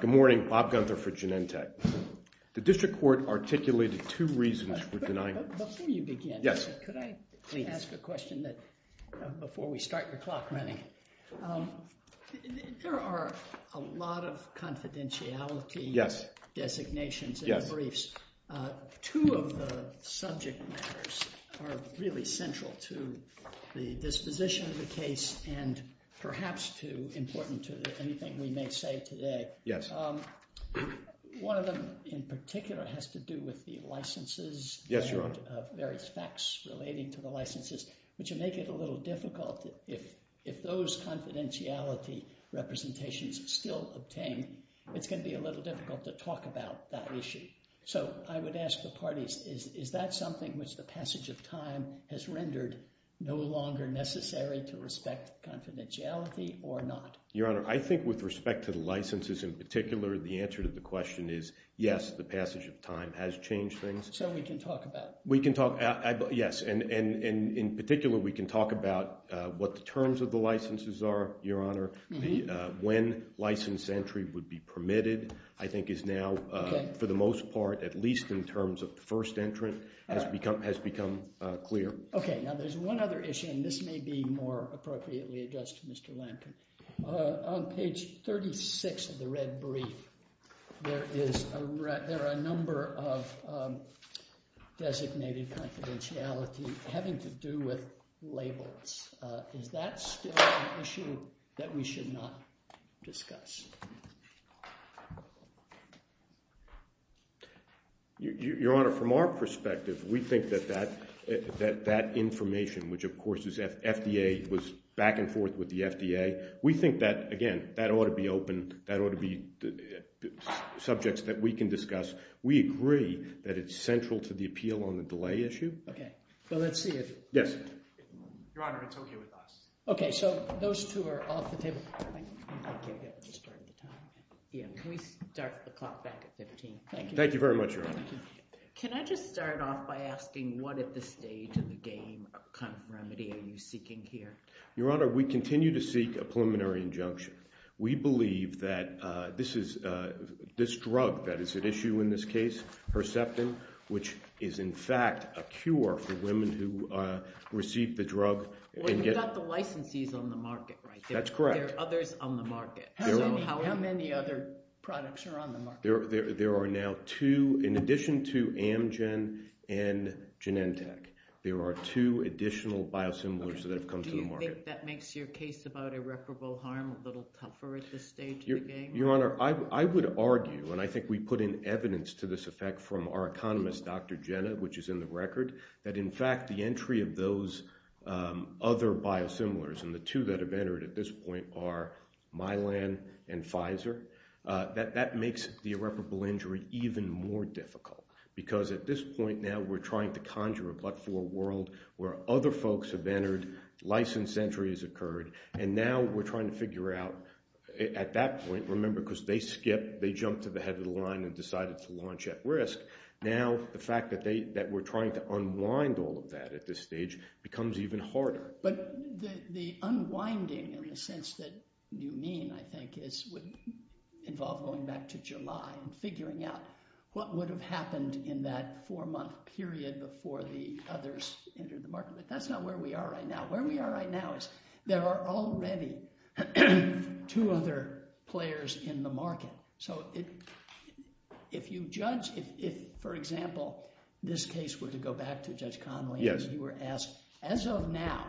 Good morning, Bob Gunther for Genentech. The District Court articulated two reasons for denying… Before you begin, could I ask a question before we start your clock running? There are a lot of confidentiality designations in the briefs. Two of the subject matters are really central to the disposition of the case and perhaps too important to anything we may say today. One of them in particular has to do with the licenses and various facts relating to the confidentiality representations still obtained, it's going to be a little difficult to talk about that issue. So I would ask the parties, is that something which the passage of time has rendered no longer necessary to respect confidentiality or not? Your Honor, I think with respect to the licenses in particular, the answer to the question is yes, the passage of time has changed things. So we can talk about… We can talk, yes, and in particular we can talk about what the terms of the licenses are, Your Honor, when license entry would be permitted, I think is now, for the most part, at least in terms of the first entrant, has become clear. Okay, now there's one other issue, and this may be more appropriately addressed to Mr. Your Honor, from our perspective, we think that that information, which of course is FDA, was back and forth with the FDA, we think that, again, that ought to be open, that ought to be subjects that we can discuss. We agree that it's central to the appeal on the delay issue. Okay, well let's see if… Yes. Your Honor, it's okay with us. Okay, so those two are off the table. Yeah, can we start the clock back at 15? Thank you. Thank you very much, Your Honor. Can I just start off by asking what at this stage of the game kind of remedy are you seeking here? Your Honor, we continue to seek a preliminary injunction. We believe that this drug that is at issue in this case, Herceptin, which is in fact a cure for women who receive the drug… Well, you've got the licensees on the market, right? That's correct. There are others on the market. How many other products are on the market? There are now two, in addition to Amgen and Genentech, there are two additional biosimilars that have come to the market. Do you think that makes your case about irreparable harm a little tougher at this stage of the game? Your Honor, I would argue, and I think we put in evidence to this effect from our economist, Dr. Jenna, which is in the record, that in fact the entry of those other biosimilars, and the two that have entered at this point are Mylan and Pfizer, that makes the irreparable injury even more difficult because at this point now we're trying to conjure a but-for a world where other folks have entered, license entry has occurred, and now we're trying to figure out, at that point, remember, because they skipped, they jumped to the head of the line and decided to launch at risk, now the fact that we're trying to unwind all of that at this stage becomes even harder. But the unwinding in the sense that you mean, I think, would involve going back to July and figuring out what would have happened in that four-month period before the others entered the market. But that's not where we are right now. Where we are right now is there are already two other players in the market. So if you judge, if, for example, this case were to go back to Judge Conway and you were asked, as of now,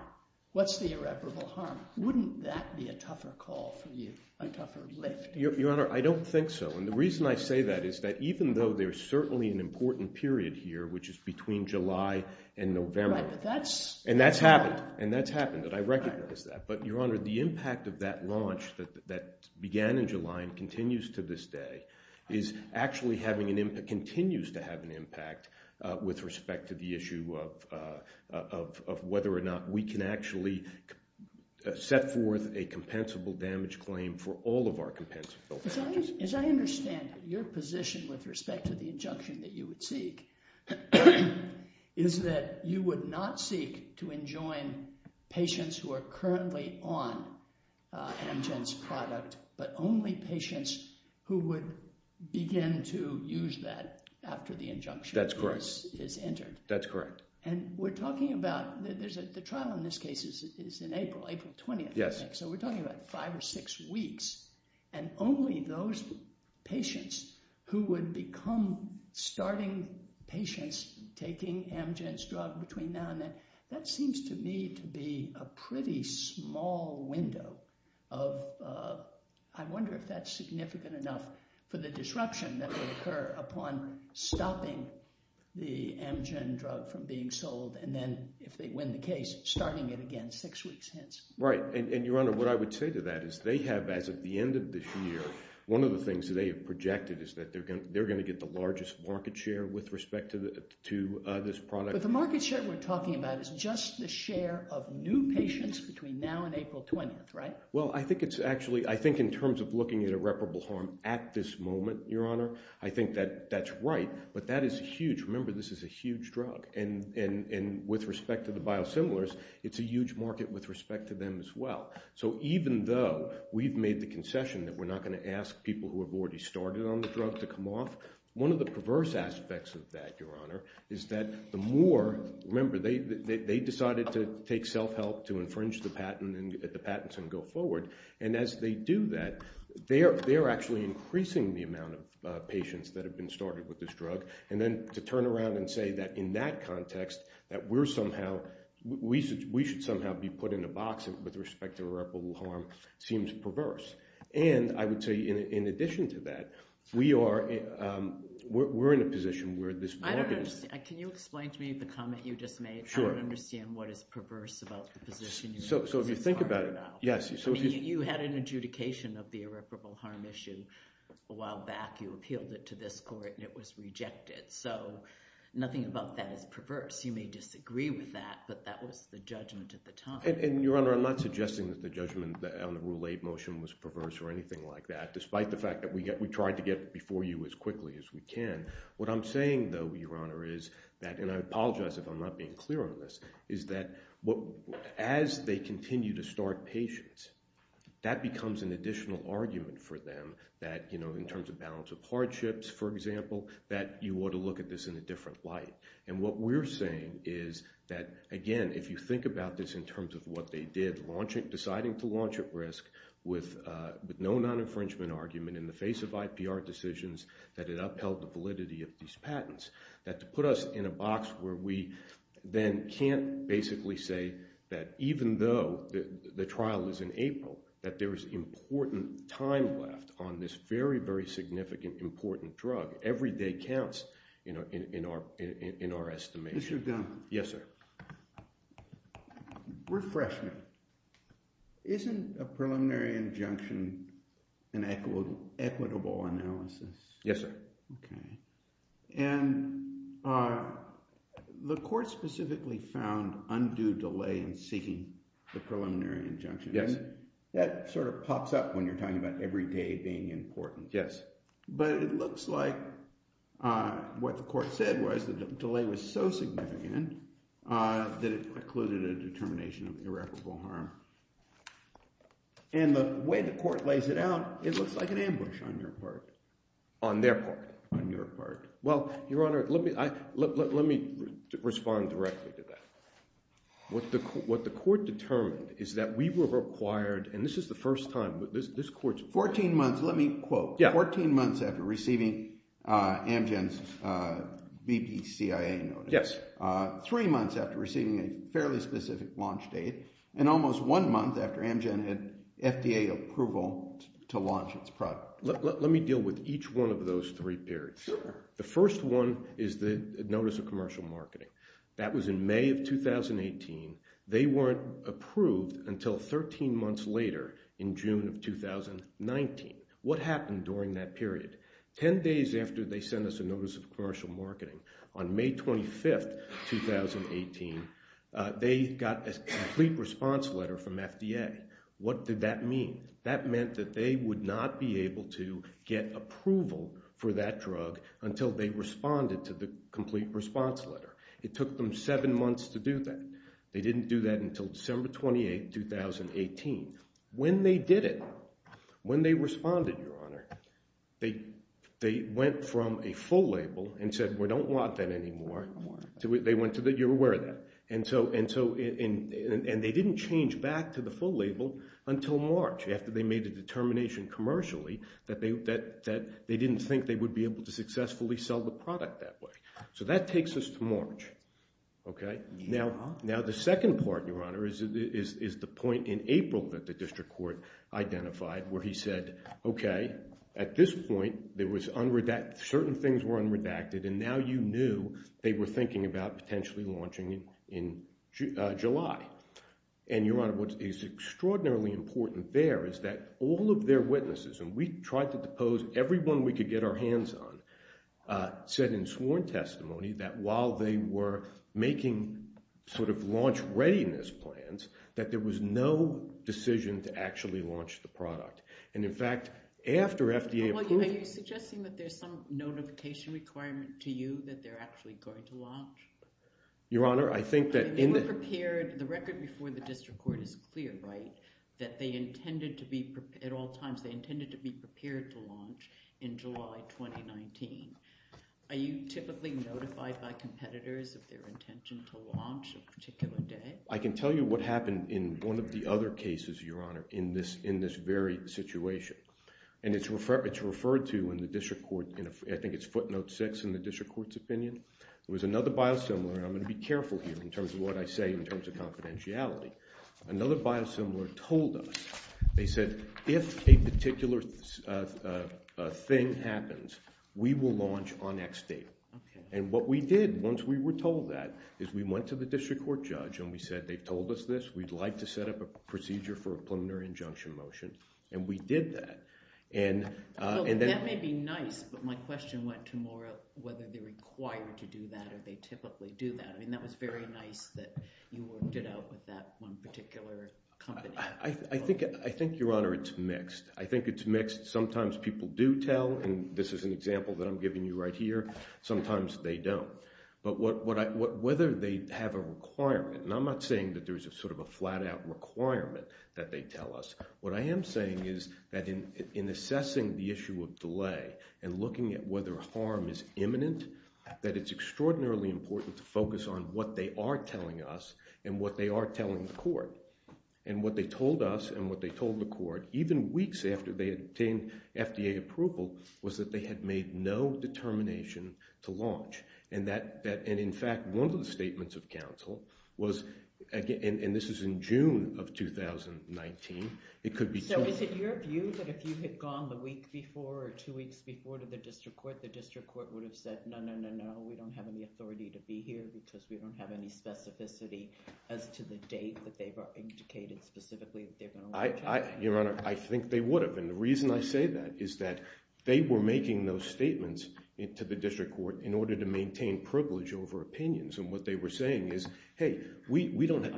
what's the irreparable harm, wouldn't that be a tougher call for you, a tougher lift? Your Honor, I don't think so. And the reason I say that is that even though there's certainly an important period here, which is between July and November, and that's happened, and that's happened, and I recognize that. But, Your Honor, the impact of that launch that began in July and continues to this day is actually having an impact, continues to have an impact with respect to the issue of whether or not we can actually set forth a compensable damage claim for all of our compensable damages. As I understand it, your position with respect to the injunction that you would seek is that you would not seek to enjoin patients who are currently on Amgen's product, but only patients who would begin to use that after the injunction is entered. That's correct. That's correct. And we're talking about, the trial in this case is in April, April 20th, I think. Yes. So we're talking about five or six weeks, and only those patients who would become starting patients taking Amgen's drug between now and then, that seems to me to be a pretty small window of, I wonder if that's significant enough for the disruption that would occur upon stopping the Amgen drug from being sold, and then, if they win the case, starting it again six weeks hence. Right. And your Honor, what I would say to that is they have, as of the end of this year, one of the things that they have projected is that they're going to get the largest market share with respect to this product. But the market share we're talking about is just the share of new patients between now and April 20th, right? Well, I think it's actually, I think in terms of looking at irreparable harm at this moment, your Honor, I think that that's right. But that is huge. Remember, this is a huge drug, and with respect to the biosimilars, it's a huge market with respect to them as well. So even though we've made the concession that we're not going to ask people who have already started on the drug to come off, one of the perverse aspects of that, your Honor, is that the more, remember, they decided to take self-help to infringe the patents and go forward, and as they do that, they're actually increasing the amount of patients that have been started with this drug. And then, to turn around and say that in that context, that we're somehow, we should somehow be put in a box with respect to irreparable harm, seems perverse. And I would say, in addition to that, we are, we're in a position where this market is- I don't understand. Can you explain to me the comment you just made? Sure. I don't understand what is perverse about the position you made. So if you think about it, yes, so if you- I mean, you had an adjudication of the irreparable harm issue a while back. You appealed it to this court, and it was rejected. So nothing about that is perverse. You may disagree with that, but that was the judgment at the time. And, your Honor, I'm not suggesting that the judgment on the Rule 8 motion was perverse or anything like that, despite the fact that we tried to get before you as quickly as we can. What I'm saying, though, your Honor, is that, and I apologize if I'm not being clear on this, is that as they continue to start patients, that becomes an additional argument for them that, you know, in terms of balance of hardships, for example, that you ought to look at this in a different light. And what we're saying is that, again, if you think about this in terms of what they did, deciding to launch at risk with no non-infringement argument in the face of IPR decisions that it upheld the validity of these patents, that to put us in a box where we then can't basically say that even though the trial is in April, that there is important time left on this very, very significant, important drug. Every day counts, you know, in our estimation. Mr. Dunn. Yes, sir. Refresh me. Isn't a preliminary injunction an equitable analysis? Yes, sir. Okay. And the Court specifically found undue delay in seeking the preliminary injunction. Yes. That sort of pops up when you're talking about every day being important. Yes. But it looks like what the Court said was that the delay was so significant that it precluded a determination of irreparable harm. And the way the Court lays it out, it looks like an ambush on your part. On their part. On your part. Well, Your Honor, let me respond directly to that. What the Court determined is that we were required, and this is the first time, this after receiving Amgen's BP CIA notice. Yes. Three months after receiving a fairly specific launch date, and almost one month after Amgen had FDA approval to launch its product. Let me deal with each one of those three periods. Sure. The first one is the notice of commercial marketing. That was in May of 2018. They weren't approved until 13 months later in June of 2019. What happened during that period? Ten days after they sent us a notice of commercial marketing, on May 25, 2018, they got a complete response letter from FDA. What did that mean? That meant that they would not be able to get approval for that drug until they responded to the complete response letter. It took them seven months to do that. They didn't do that until December 28, 2018. When they did it, when they responded, Your Honor, they went from a full label and said, we don't want that anymore. They went to the, you're aware of that. And they didn't change back to the full label until March, after they made a determination commercially that they didn't think they would be able to successfully sell the product that way. So that takes us to March. Now, the second part, Your Honor, is the point in April that the district court identified, where he said, OK, at this point, certain things were unredacted, and now you knew they were thinking about potentially launching in July. And Your Honor, what is extraordinarily important there is that all of their witnesses, and we tried to depose everyone we could get our hands on, said in sworn testimony that while they were making sort of launch readiness plans, that there was no decision to actually launch the product. And in fact, after FDA approved- Are you suggesting that there's some notification requirement to you that they're actually going to launch? Your Honor, I think that- They were prepared, the record before the district court is clear, right? That they intended to be, at all times, they intended to be prepared to launch in July 2019. Are you typically notified by competitors of their intention to launch a particular day? I can tell you what happened in one of the other cases, Your Honor, in this very situation. And it's referred to in the district court, I think it's footnote six in the district court's opinion. There was another biosimilar, and I'm going to be careful here in terms of what I say in terms of confidentiality. Another biosimilar told us, they said, if a particular thing happens, we will launch on X date. And what we did, once we were told that, is we went to the district court judge and we said, they told us this, we'd like to set up a procedure for a preliminary injunction motion. And we did that. And then- That may be nice, but my question went to more of whether they're required to do that or they typically do that. I mean, that was very nice that you worked it out with that one particular company. I think, Your Honor, it's mixed. I think it's mixed. Sometimes people do tell, and this is an example that I'm giving you right here. Sometimes they don't. But whether they have a requirement, and I'm not saying that there's sort of a flat-out requirement that they tell us. What I am saying is that in assessing the issue of delay and looking at whether harm is imminent, that it's extraordinarily important to focus on what they are telling us and what they are telling the court. And what they told us and what they told the court, even weeks after they obtained FDA approval, was that they had made no determination to launch. And in fact, one of the statements of counsel was, and this is in June of 2019, it could be- So is it your view that if you had gone the week before or two weeks before to the district court would have said, no, no, no, no, we don't have any authority to be here because we don't have any specificity as to the date that they've indicated specifically that they're going to launch? Your Honor, I think they would have. And the reason I say that is that they were making those statements to the district court in order to maintain privilege over opinions. And what they were saying is, hey, we don't have-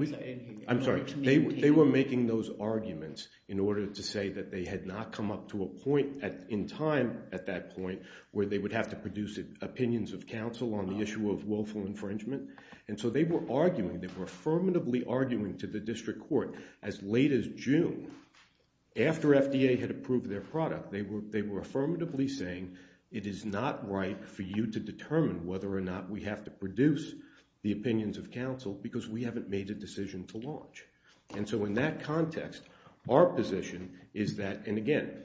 I'm sorry. They were making those arguments in order to say that they had not come up to a point in time at that point where they would have to produce opinions of counsel on the issue of willful infringement. And so they were arguing. They were affirmatively arguing to the district court as late as June, after FDA had approved their product. They were affirmatively saying, it is not right for you to determine whether or not we have to produce the opinions of counsel because we haven't made a decision to launch. And so in that context, our position is that- and again,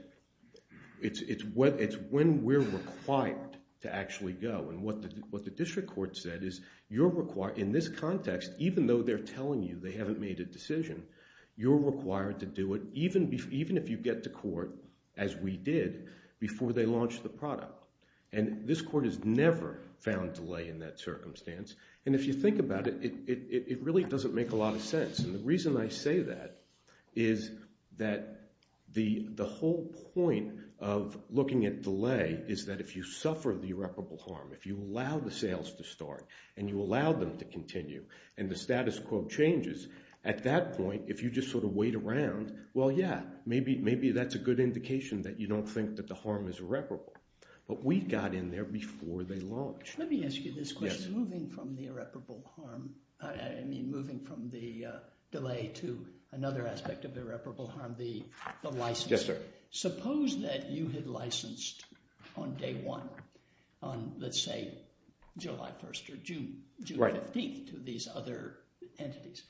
it's when we're required to actually go. And what the district court said is, you're required- in this context, even though they're telling you they haven't made a decision, you're required to do it even if you get to court, as we did, before they launched the product. And this court has never found delay in that circumstance. And if you think about it, it really doesn't make a lot of sense. And the reason I say that is that the whole point of looking at delay is that if you suffer the irreparable harm, if you allow the sales to start, and you allow them to continue, and the status quo changes, at that point, if you just sort of wait around, well, yeah, maybe that's a good indication that you don't think that the harm is irreparable. But we got in there before they launched. Let me ask you this question. Moving from the irreparable harm- I mean, moving from the delay to another aspect of irreparable harm, the license. Yes, sir. Suppose that you had licensed on day one, on, let's say, July 1st or June 15th, to these other entities.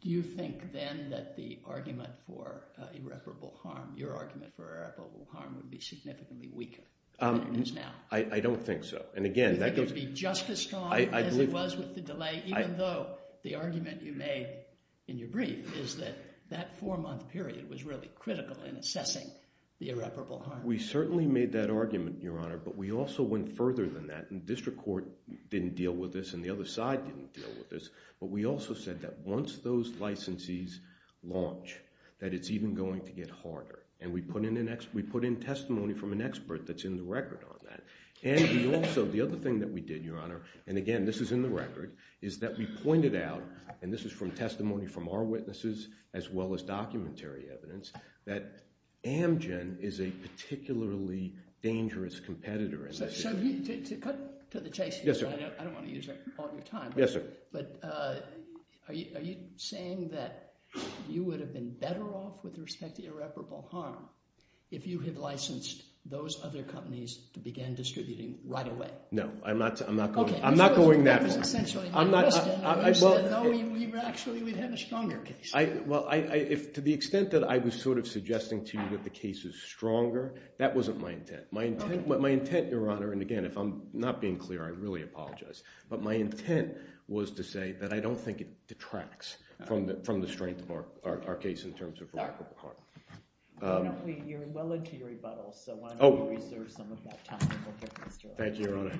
Do you think then that the argument for irreparable harm, your argument for irreparable harm, would be significantly weaker than it is now? I don't think so. And again, that goes- Do you think it would be just as strong as it was with the delay, even though the argument you made in your brief is that that four-month period was really critical in assessing the irreparable harm? We certainly made that argument, Your Honor, but we also went further than that. And district court didn't deal with this, and the other side didn't deal with this. But we also said that once those licensees launch, that it's even going to get harder. And we put in testimony from an expert that's in the record on that. And we also, the other thing that we did, Your Honor, and again, this is in the record, is that we pointed out, and this is from testimony from our witnesses as well as documentary evidence, that Amgen is a particularly dangerous competitor. So to cut to the chase- Yes, sir. I don't want to use up all your time. Yes, sir. But are you saying that you would have been better off with respect to irreparable harm if you had licensed those other companies to begin distributing right away? No. I'm not going that far. Okay. That was essentially my question. I'm not- No, actually, we'd have a stronger case. Well, to the extent that I was sort of suggesting to you that the case is stronger, that wasn't my intent. My intent, Your Honor, and again, if I'm not being clear, I really apologize. But my intent was to say that I don't think it detracts from the strength of our case in terms of irreparable harm. Why don't we- you're well into your rebuttal, so why don't you reserve some of that time to look at Mr. Lowe? Thank you, Your Honor.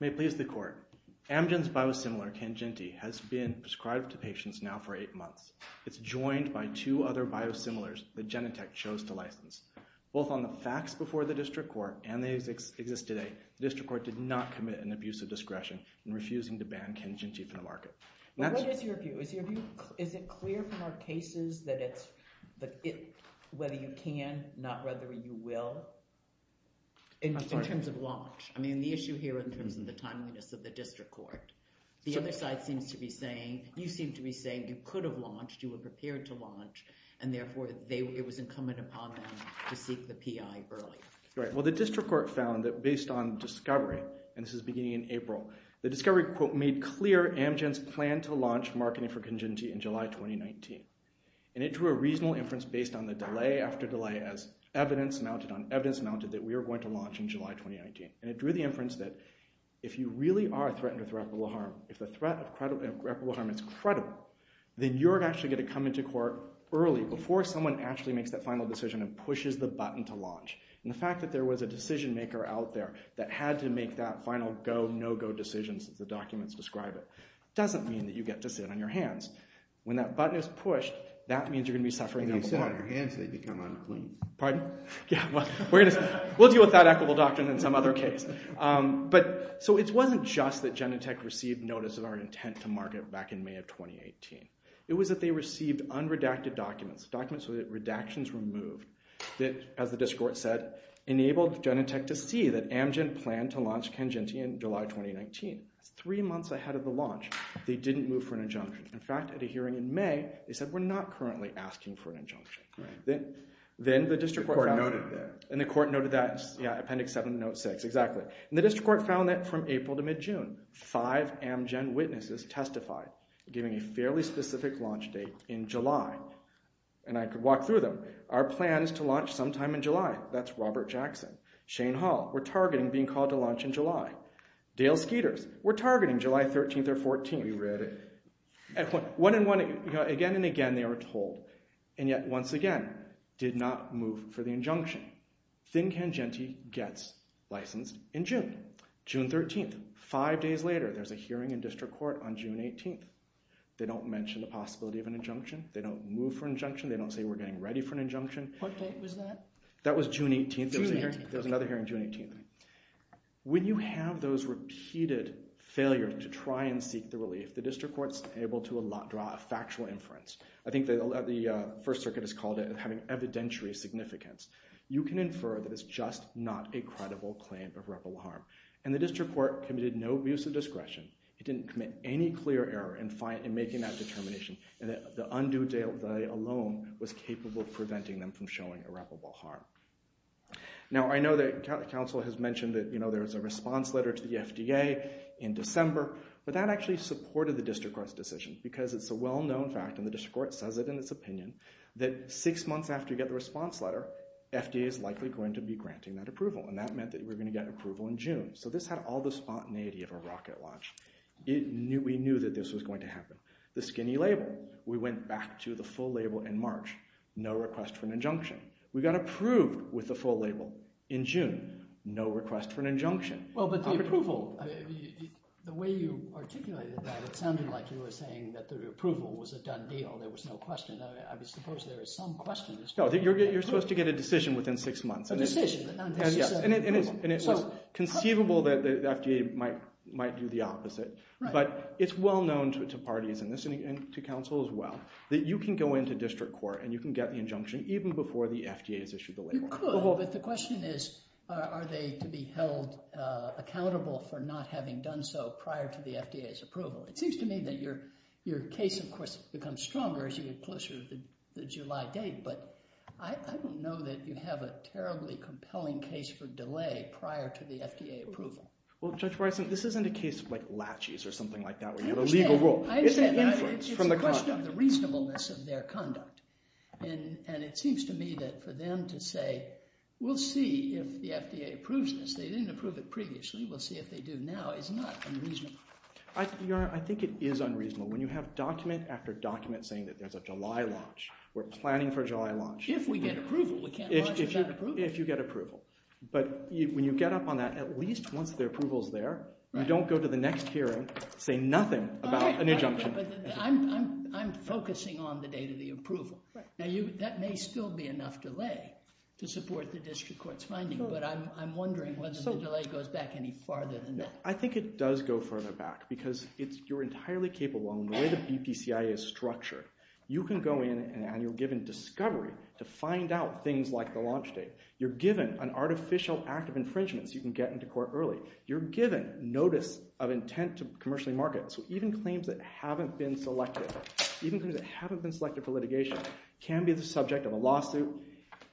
May it please the Court. Amgen's biosimilar, Cangenti, has been prescribed to patients now for eight months. It's joined by two other biosimilars that Genentech chose to license. Both on the facts before the district court and they exist today, the district court did not commit an abuse of discretion in refusing to ban Cangenti from the market. What is your view? Is it clear from our cases that it's whether you can, not whether you will, in terms of launch? I mean, the issue here in terms of the timeliness of the district court. The other side seems to be saying, you seem to be saying you could have launched, you were prepared to launch, and therefore it was incumbent upon them to seek the PI early. Right. Well, the district court found that based on discovery, and this is beginning in April, the discovery, quote, made clear Amgen's plan to launch marketing for Cangenti in July 2019. And it drew a reasonable inference based on the delay after delay as evidence mounted on evidence mounted that we are going to launch in July 2019. And it drew the inference that if you really are threatened with irreparable harm, if the early, before someone actually makes that final decision and pushes the button to launch. And the fact that there was a decision maker out there that had to make that final go, no-go decision, as the documents describe it, doesn't mean that you get to sit on your hands. When that button is pushed, that means you're going to be suffering. And if you sit on your hands, they become unclean. Pardon? Yeah, well, we'll deal with that equitable doctrine in some other case. But, so it wasn't just that Genentech received notice of our intent to market back in May of 2018. It was that they received unredacted documents, documents so that redactions were moved that, as the district court said, enabled Genentech to see that Amgen planned to launch Cangenti in July 2019. That's three months ahead of the launch. They didn't move for an injunction. In fact, at a hearing in May, they said, we're not currently asking for an injunction. Then the district court noted that. And the court noted that, yeah, Appendix 7, Note 6, exactly. And the district court found that from April to mid-June, five Amgen witnesses testified, giving a fairly specific launch date in July. And I could walk through them. Our plan is to launch sometime in July. That's Robert Jackson. Shane Hall, we're targeting being called to launch in July. Dale Skeeters, we're targeting July 13th or 14th. We read it. Again and again, they were told. And yet, once again, did not move for the injunction. Thin Cangenti gets licensed in June, June 13th. Five days later, there's a hearing in district court on June 18th. They don't mention the possibility of an injunction. They don't move for an injunction. They don't say, we're getting ready for an injunction. What date was that? That was June 18th. June 18th. There was another hearing June 18th. When you have those repeated failures to try and seek the relief, the district court's able to draw a factual inference. I think the First Circuit has called it having evidentiary significance. You can infer that it's just not a credible claim of rebel harm. And the district court committed no abuse of discretion. It didn't commit any clear error in making that determination. And the undue delay alone was capable of preventing them from showing irreparable harm. Now, I know that counsel has mentioned that there is a response letter to the FDA in December. But that actually supported the district court's decision. Because it's a well-known fact, and the district court says it in its opinion, that six months after you get the response letter, FDA is likely going to be granting that approval. And that meant that we're going to get approval in June. So this had all the spontaneity of a rocket launch. We knew that this was going to happen. The skinny label. We went back to the full label in March. No request for an injunction. We got approved with the full label in June. No request for an injunction. Well, but the approval, the way you articulated that, it sounded like you were saying that the approval was a done deal. There was no question. I suppose there is some question. No, you're supposed to get a decision within six months. A decision. And it was conceivable that the FDA might do the opposite. But it's well known to parties, and to counsel as well, that you can go into district court and you can get the injunction even before the FDA has issued the label. You could, but the question is, are they to be held accountable for not having done so prior to the FDA's approval? It seems to me that your case, of course, becomes stronger as you get closer to the July date. But I don't know that you have a terribly compelling case for delay prior to the FDA approval. Well, Judge Bryson, this isn't a case of like latches or something like that where you have a legal rule. I understand. It's a question of the reasonableness of their conduct. And it seems to me that for them to say, we'll see if the FDA approves this. They didn't approve it previously. We'll see if they do now, is not unreasonable. Your Honor, I think it is unreasonable. When you have document after document saying that there's a July launch, we're planning for a July launch. If we get approval. We can't launch without approval. If you get approval. But when you get up on that, at least once the approval is there, you don't go to the next hearing, say nothing about an injunction. But I'm focusing on the date of the approval. Right. Now, that may still be enough delay to support the district court's finding. But I'm wondering whether the delay goes back any farther than that. I think it does go further back because you're entirely capable. The way the BPCIA is structured, you can go in and you're given discovery to find out things like the launch date. You're given an artificial act of infringement so you can get into court early. You're given notice of intent to commercially market. So even claims that haven't been selected for litigation can be the subject of a lawsuit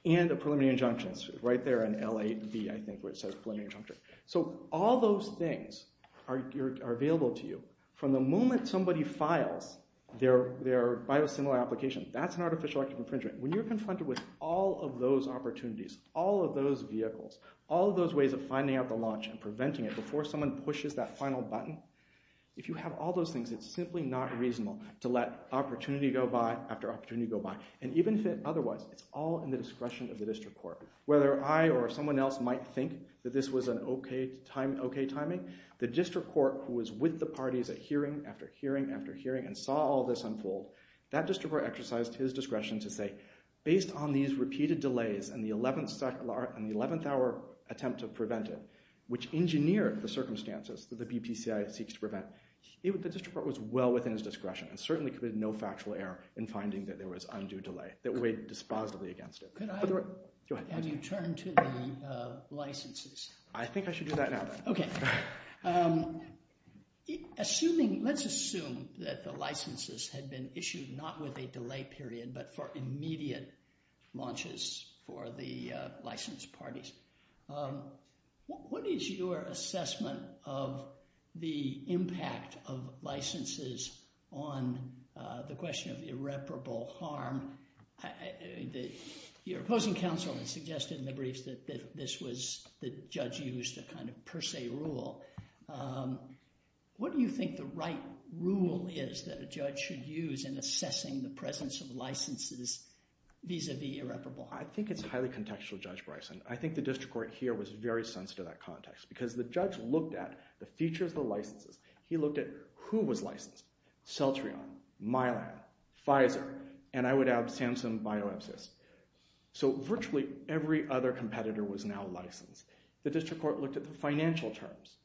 and a preliminary injunction. It's right there in LAB, I think, where it says preliminary injunction. So all those things are available to you. From the moment somebody files their biosimilar application, that's an artificial act of infringement. When you're confronted with all of those opportunities, all of those vehicles, all of those ways of finding out the launch and preventing it before someone pushes that final button, if you have all those things, it's simply not reasonable to let opportunity go by after opportunity go by. And even if it otherwise, it's all in the discretion of the district court. Whether I or someone else might think that this was an okay timing, the district court who was with the parties at hearing after hearing after hearing and saw all this unfold, that district court exercised his discretion to say, based on these repeated delays and the 11th hour attempt to prevent it, which engineered the circumstances that the BPCI seeks to prevent, the district court was well within his discretion and certainly committed no factual error in finding that there was undue delay that weighed dispositively against it. Go ahead. Have you turned to the licenses? I think I should do that now. Okay. Assuming, let's assume that the licenses had been issued not with a delay period, but for immediate launches for the licensed parties. What is your assessment of the impact of licenses on the question of irreparable harm? Your opposing counsel has suggested in the briefs that this was, the judge used a kind of per se rule. What do you think the right rule is that a judge should use in assessing the presence of licenses vis-a-vis irreparable harm? I think it's highly contextual, Judge Bryson. I think the district court here was very sensitive to that context because the judge looked at the features of the licenses. He looked at who was licensed, Celtrion, Mylan, Pfizer, and I would add, Samsung BioEpsys. So, virtually every other competitor was now licensed. The district court looked at the financial terms,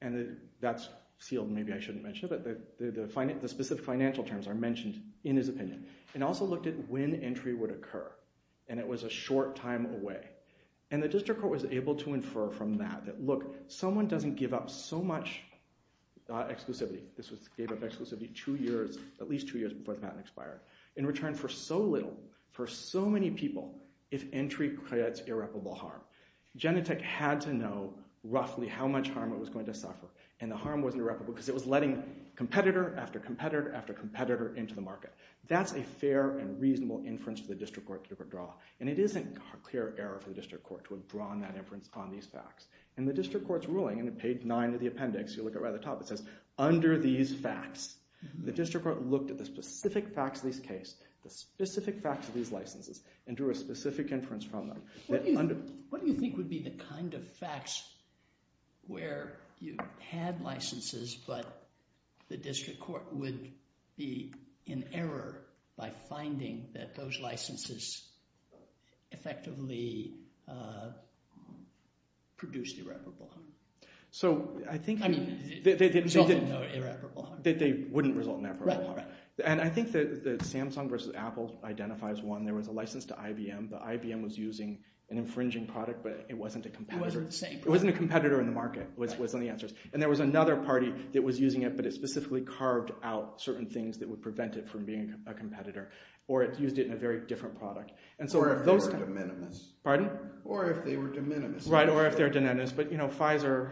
and that's sealed, maybe I shouldn't mention it, but the specific financial terms are mentioned in his opinion. It also looked at when entry would occur, and it was a short time away. And the district court was able to infer from that that, look, someone doesn't give up so much exclusivity. This was, gave up exclusivity two years, at least two years before the patent expired, in return for so little, for so many people, if entry creates irreparable harm. Genentech had to know roughly how much harm it was going to suffer, and the harm wasn't irreparable because it was letting competitor after competitor after competitor into the market. That's a fair and reasonable inference for the district court to draw, and it isn't a clear error for the district court to have drawn that inference on these facts. In the district court's ruling, in page nine of the appendix, you look at right at the top, it says, under these facts, the district court looked at the specific facts of this case, the specific facts of these licenses, and drew a specific inference from them. What do you think would be the kind of facts where you had licenses, but the district court would be in error by finding that those licenses effectively produced irreparable harm? So, I think that they wouldn't result in irreparable harm. And I think that Samsung versus Apple identifies one. There was a license to IBM, but IBM was using an infringing product, but it wasn't a competitor. It wasn't the same product. It wasn't a competitor in the market was one of the answers. And there was another party that was using it, but it specifically carved out certain things that would prevent it from being a competitor, or it used it in a very different product. Or if they were de minimis. Pardon? Or if they were de minimis. Right, or if they're de minimis. But Pfizer,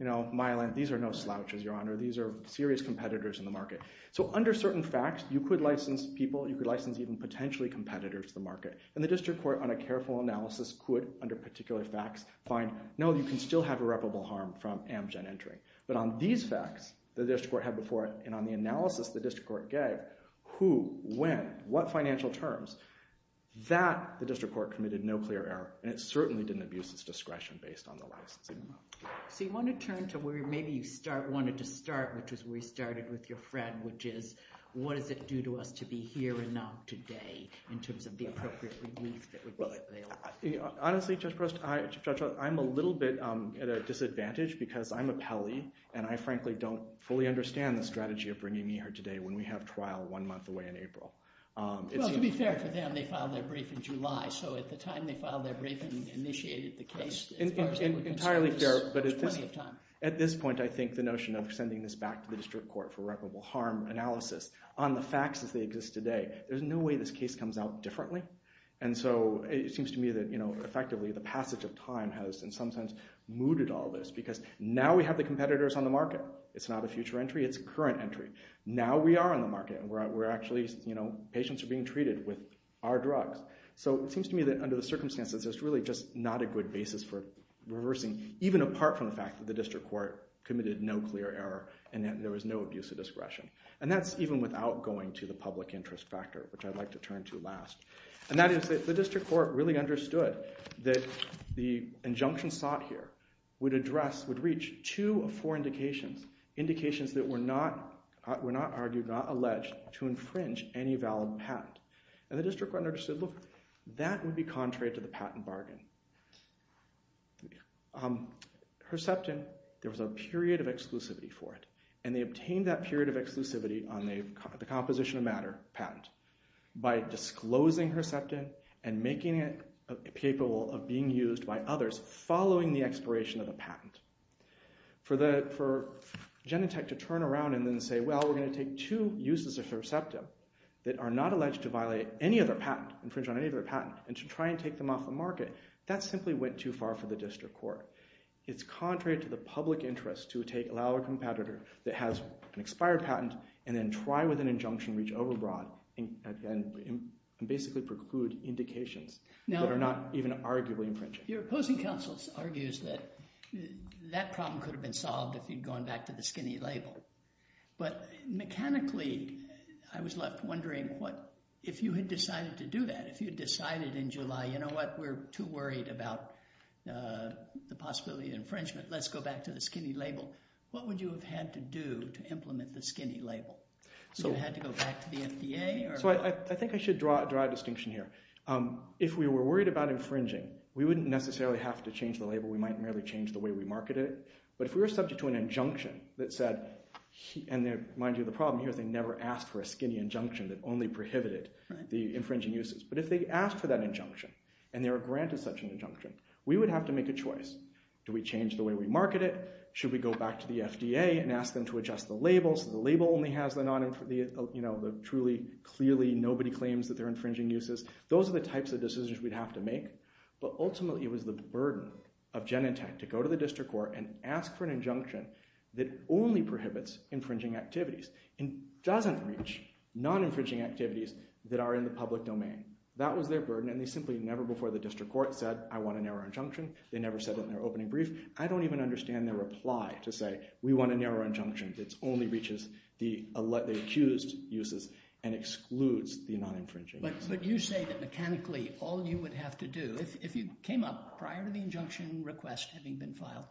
Mylan, these are no slouches, Your Honor. These are serious competitors in the market. So, under certain facts, you could license people, you could license even potentially competitors to the market. And the district court, on a careful analysis, could, under particular facts, find, no, you can still have irreparable harm from Amgen entering. But on these facts, the district court had before it, and on the analysis the district court gave, who, when, what financial terms, that the district court committed no clear error, and it certainly didn't abuse its discretion based on the licensing amount. So you want to turn to where maybe you wanted to start, which is where you started with your friend, which is, what does it do to us to be here or not today, in terms of the appropriate relief that would be available? Honestly, Judge Preston, Judge Roth, I'm a little bit at a disadvantage because I'm a Pelley, and I frankly don't fully understand the strategy of bringing me here today when we have trial one month away in April. Well, to be fair to them, they filed their brief in July. So at the time they filed their brief and initiated the case, as far as they were concerned, there was plenty of time. At this point, I think the notion of sending this back to the district court for irreparable harm analysis on the facts as they exist today, there's no way this case comes out differently. And so it seems to me that, effectively, the passage of time has, in some sense, mooted all this because now we have the competitors on the market. It's not a future entry. It's a current entry. Now we are on the market, and we're actually, patients are being treated with our drugs. So it seems to me that under the circumstances, it's really just not a good basis for reversing, even apart from the fact that the district court committed no clear error and that there was no abuse of discretion. And that's even without going to the public interest factor, which I'd like to turn to last. And that is that the district court really understood that the injunction sought here would address, would reach two of four indications, indications that were not argued, not alleged, to infringe any valid patent. And the district court understood, look, that would be contrary to the patent bargain. Herceptin, there was a period of exclusivity for it. And they obtained that period of exclusivity on the composition of matter patent by disclosing Herceptin and making it capable of being used by others following the expiration of the patent. For Genentech to turn around and then say, well, we're going to take two uses of Herceptin that are not alleged to violate any other patent, infringe on any other patent, and to try and take them off the market, that simply went too far for the district court. It's contrary to the public interest to allow a competitor that has an expired patent and then try with an injunction to reach overbroad and basically preclude indications that are not even arguably infringing. Your opposing counsel argues that that problem could have been solved if you'd gone back to the skinny label. But mechanically, I was left wondering if you had decided to do that, if you'd decided in July, you know what, we're too worried about the possibility of infringement. Let's go back to the skinny label. What would you have had to do to implement the skinny label? Would you have had to go back to the FDA? So I think I should draw a distinction here. If we were worried about infringing, we wouldn't necessarily have to change the label. We might merely change the way we market it. But if we were subject to an injunction that said, and mind you, the problem here is they never asked for a skinny injunction that only prohibited the infringing uses. But if they asked for that injunction and they were granted such an injunction, we would have to make a choice. Do we change the way we market it? Should we go back to the FDA and ask them to adjust the labels so the label only has the truly clearly nobody claims that they're infringing uses? Those are the types of decisions we'd have to make. But ultimately, it was the burden of Genentech to go to the district court and ask for an injunction that only prohibits infringing activities. It doesn't reach non-infringing activities that are in the public domain. That was their burden, and they simply never before the district court said, I want a narrow injunction. They never said it in their opening brief. I don't even understand their reply to say, we want a narrow injunction that only reaches the accused uses and excludes the non-infringing uses. But you say that mechanically all you would have to do, if you came up prior to the injunction request having been filed,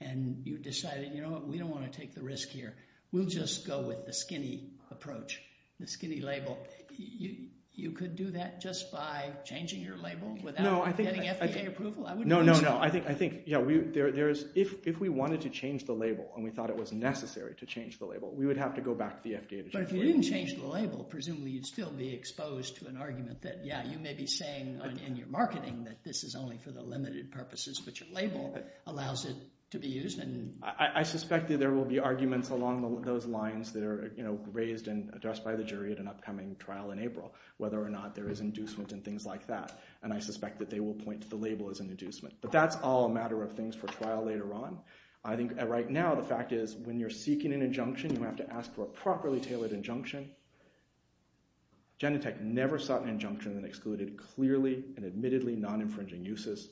and you decided, you know what, we don't want to take the risk here. We'll just go with the skinny approach, the skinny label. You could do that just by changing your label without getting FDA approval? No, no, no. I think, yeah, if we wanted to change the label and we thought it was necessary to change the label, we would have to go back to the FDA to change the label. But if you didn't change the label, presumably you'd still be exposed to an argument that, yeah, you may be saying in your marketing that this is only for the limited purposes, but your label allows it to be used. I suspect that there will be arguments along those lines that are raised and addressed by the jury at an upcoming trial in April, whether or not there is inducement and things like that. And I suspect that they will point to the label as an inducement. But that's all a matter of things for trial later on. I think right now the fact is when you're seeking an injunction, you have to ask for a properly tailored injunction. Genentech never sought an injunction that excluded clearly and admittedly non-infringing uses.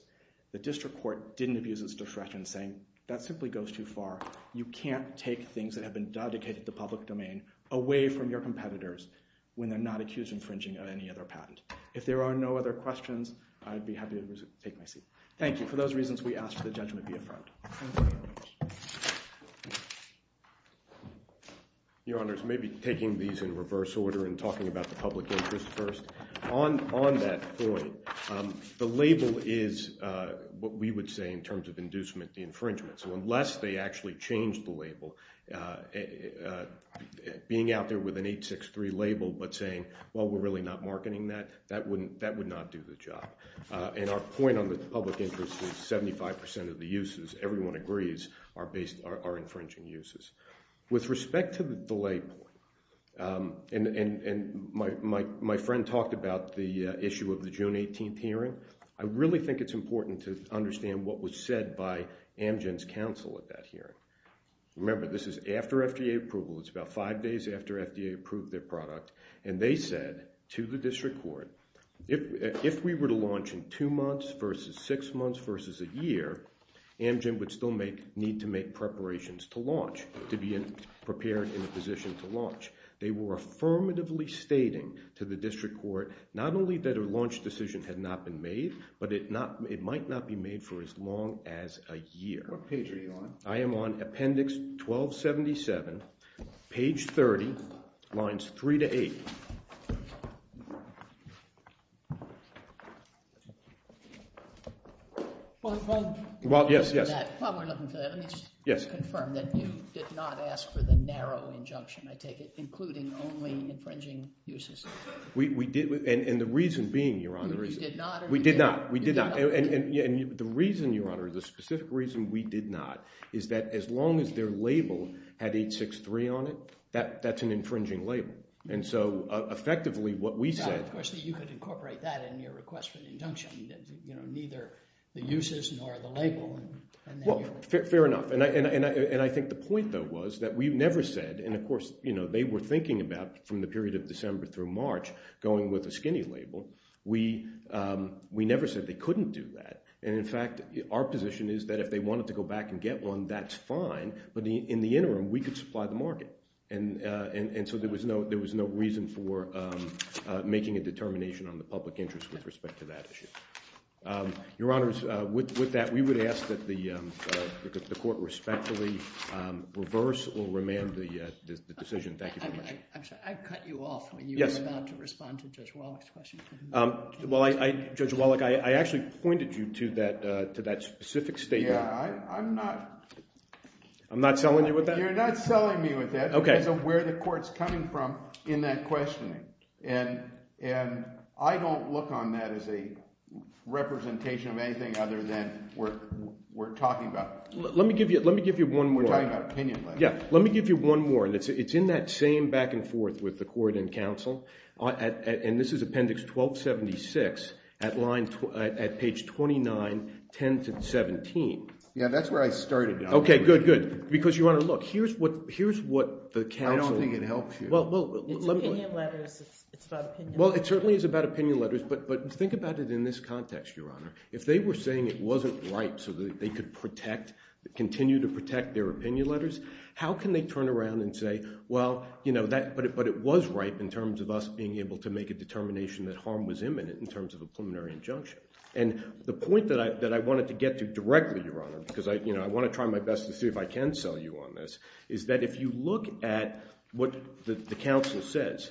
The district court didn't abuse its discretion in saying that simply goes too far. You can't take things that have been dedicated to public domain away from your competitors when they're not accused of infringing on any other patent. If there are no other questions, I'd be happy to take my seat. Thank you. For those reasons, we ask that the judgment be affirmed. Your Honors, maybe taking these in reverse order and talking about the public interest first. On that point, the label is what we would say in terms of inducement infringement. So unless they actually change the label, being out there with an 863 label but saying, well, we're really not marketing that, that would not do the job. And our point on the public interest is 75% of the uses, everyone agrees, are infringing uses. With respect to the delay point, and my friend talked about the issue of the June 18th hearing, I really think it's important to understand what was said by Amgen's counsel at that hearing. Remember, this is after FDA approval. It's about five days after FDA approved their product. And they said to the district court, if we were to launch in two months versus six months versus a year, Amgen would still need to make preparations to launch, to be prepared in a position to launch. They were affirmatively stating to the district court not only that a launch decision had not been made, but it might not be made for as long as a year. What page are you on? I am on Appendix 1277, page 30, lines 3 to 8. Thank you. Well, yes, yes. While we're looking for that, let me just confirm that you did not ask for the narrow injunction, I take it, including only infringing uses. We did, and the reason being, Your Honor, we did not. We did not. And the reason, Your Honor, the specific reason we did not is that as long as their label had 863 on it, that's an infringing label. And so effectively what we said – Now, of course, you could incorporate that in your request for an injunction, that neither the uses nor the label – Well, fair enough. And I think the point, though, was that we never said – and, of course, they were thinking about, from the period of December through March, going with a skinny label. We never said they couldn't do that. And, in fact, our position is that if they wanted to go back and get one, that's fine. But in the interim, we could supply the market. And so there was no reason for making a determination on the public interest with respect to that issue. Your Honors, with that, we would ask that the court respectfully reverse or remand the decision. Thank you very much. I'm sorry. I cut you off when you were about to respond to Judge Wallach's question. Well, Judge Wallach, I actually pointed you to that specific statement. Yeah, I'm not – I'm not selling you with that? You're not selling me with that. Okay. Because of where the court's coming from in that questioning. And I don't look on that as a representation of anything other than what we're talking about. Let me give you one more. We're talking about opinion. Yeah, let me give you one more, and it's in that same back and forth with the court and counsel. And this is Appendix 1276 at line – at page 29, 10 to 17. Yeah, that's where I started. Okay, good, good, because you want to look. Well, here's what the counsel – I don't think it helps you. It's opinion letters. It's about opinion letters. Well, it certainly is about opinion letters, but think about it in this context, Your Honor. If they were saying it wasn't ripe so that they could protect – continue to protect their opinion letters, how can they turn around and say, well, you know, but it was ripe in terms of us being able to make a determination that harm was imminent in terms of a preliminary injunction. And the point that I wanted to get to directly, Your Honor, because I want to try my best to see if I can sell you on this, is that if you look at what the counsel says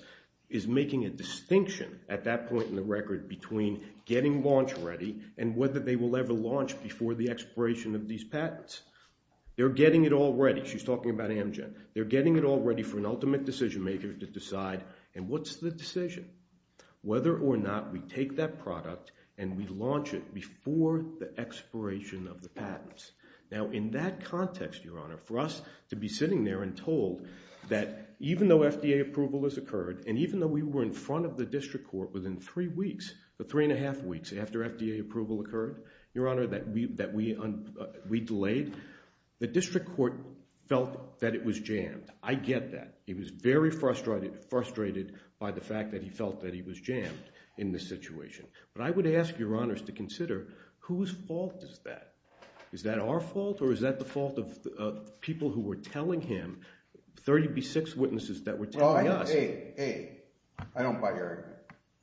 is making a distinction at that point in the record between getting launch ready and whether they will ever launch before the expiration of these patents. They're getting it all ready. She's talking about Amgen. They're getting it all ready for an ultimate decision maker to decide, and what's the decision? Whether or not we take that product and we launch it before the expiration of the patents. Now, in that context, Your Honor, for us to be sitting there and told that even though FDA approval has occurred and even though we were in front of the district court within three weeks, the three and a half weeks after FDA approval occurred, Your Honor, that we delayed, the district court felt that it was jammed. I get that. He was very frustrated by the fact that he felt that he was jammed in this situation. But I would ask Your Honors to consider whose fault is that? Is that our fault or is that the fault of people who were telling him, 36 witnesses that were telling us? Well, A, I don't buy your argument.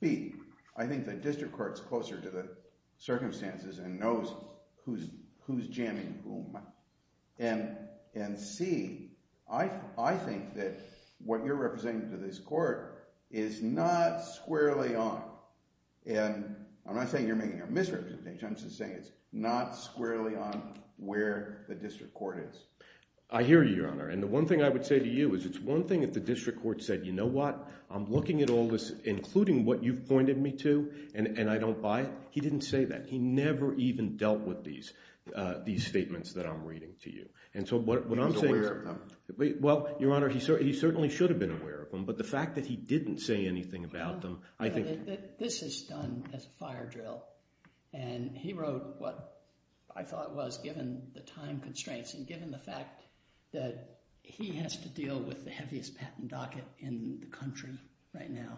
B, I think the district court's closer to the circumstances and knows who's jamming whom. And C, I think that what you're representing to this court is not squarely on. And I'm not saying you're making a misrepresentation. I'm just saying it's not squarely on where the district court is. I hear you, Your Honor. And the one thing I would say to you is it's one thing if the district court said, you know what, I'm looking at all this, including what you've pointed me to, and I don't buy it. He didn't say that. He never even dealt with these statements that I'm reading to you. And so what I'm saying is— He was aware of them. Well, Your Honor, he certainly should have been aware of them. But the fact that he didn't say anything about them, I think— This is done as a fire drill, and he wrote what I thought was, given the time constraints and given the fact that he has to deal with the heaviest patent docket in the country right now,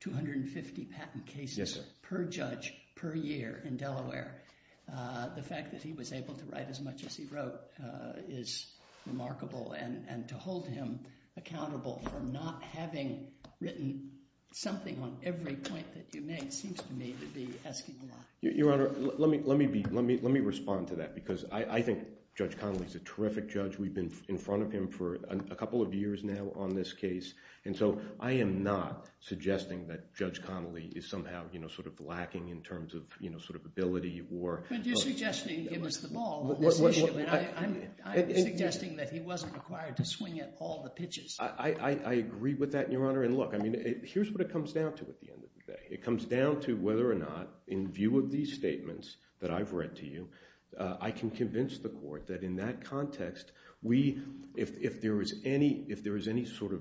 250 patent cases per judge per year in Delaware, the fact that he was able to write as much as he wrote is remarkable. And to hold him accountable for not having written something on every point that you made seems to me to be asking a lot. Your Honor, let me respond to that because I think Judge Connolly is a terrific judge. We've been in front of him for a couple of years now on this case. And so I am not suggesting that Judge Connolly is somehow sort of lacking in terms of ability or— But you're suggesting he was the ball on this issue. I'm suggesting that he wasn't required to swing at all the pitches. I agree with that, Your Honor. And look, here's what it comes down to at the end of the day. It comes down to whether or not, in view of these statements that I've read to you, I can convince the court that in that context, if there is any sort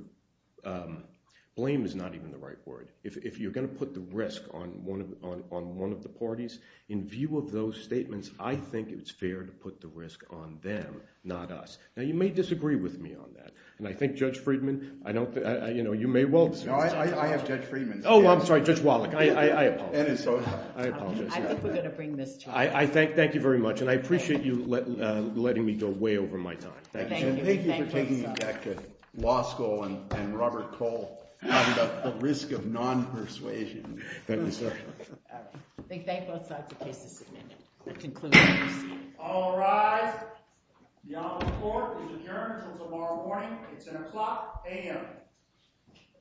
of— blame is not even the right word. If you're going to put the risk on one of the parties, in view of those statements, I think it's fair to put the risk on them, not us. Now you may disagree with me on that, and I think Judge Friedman, you may well— No, I have Judge Friedman. Oh, I'm sorry, Judge Wallach. I apologize. I think we're going to bring this to you. Thank you very much, and I appreciate you letting me go way over my time. Thank you for taking me back to law school and Robert Cole talking about the risk of non-persuasion. Thank you, sir. I think they both like the case that's been concluded. All rise. The honorable court is adjourned until tomorrow morning at 10 o'clock a.m.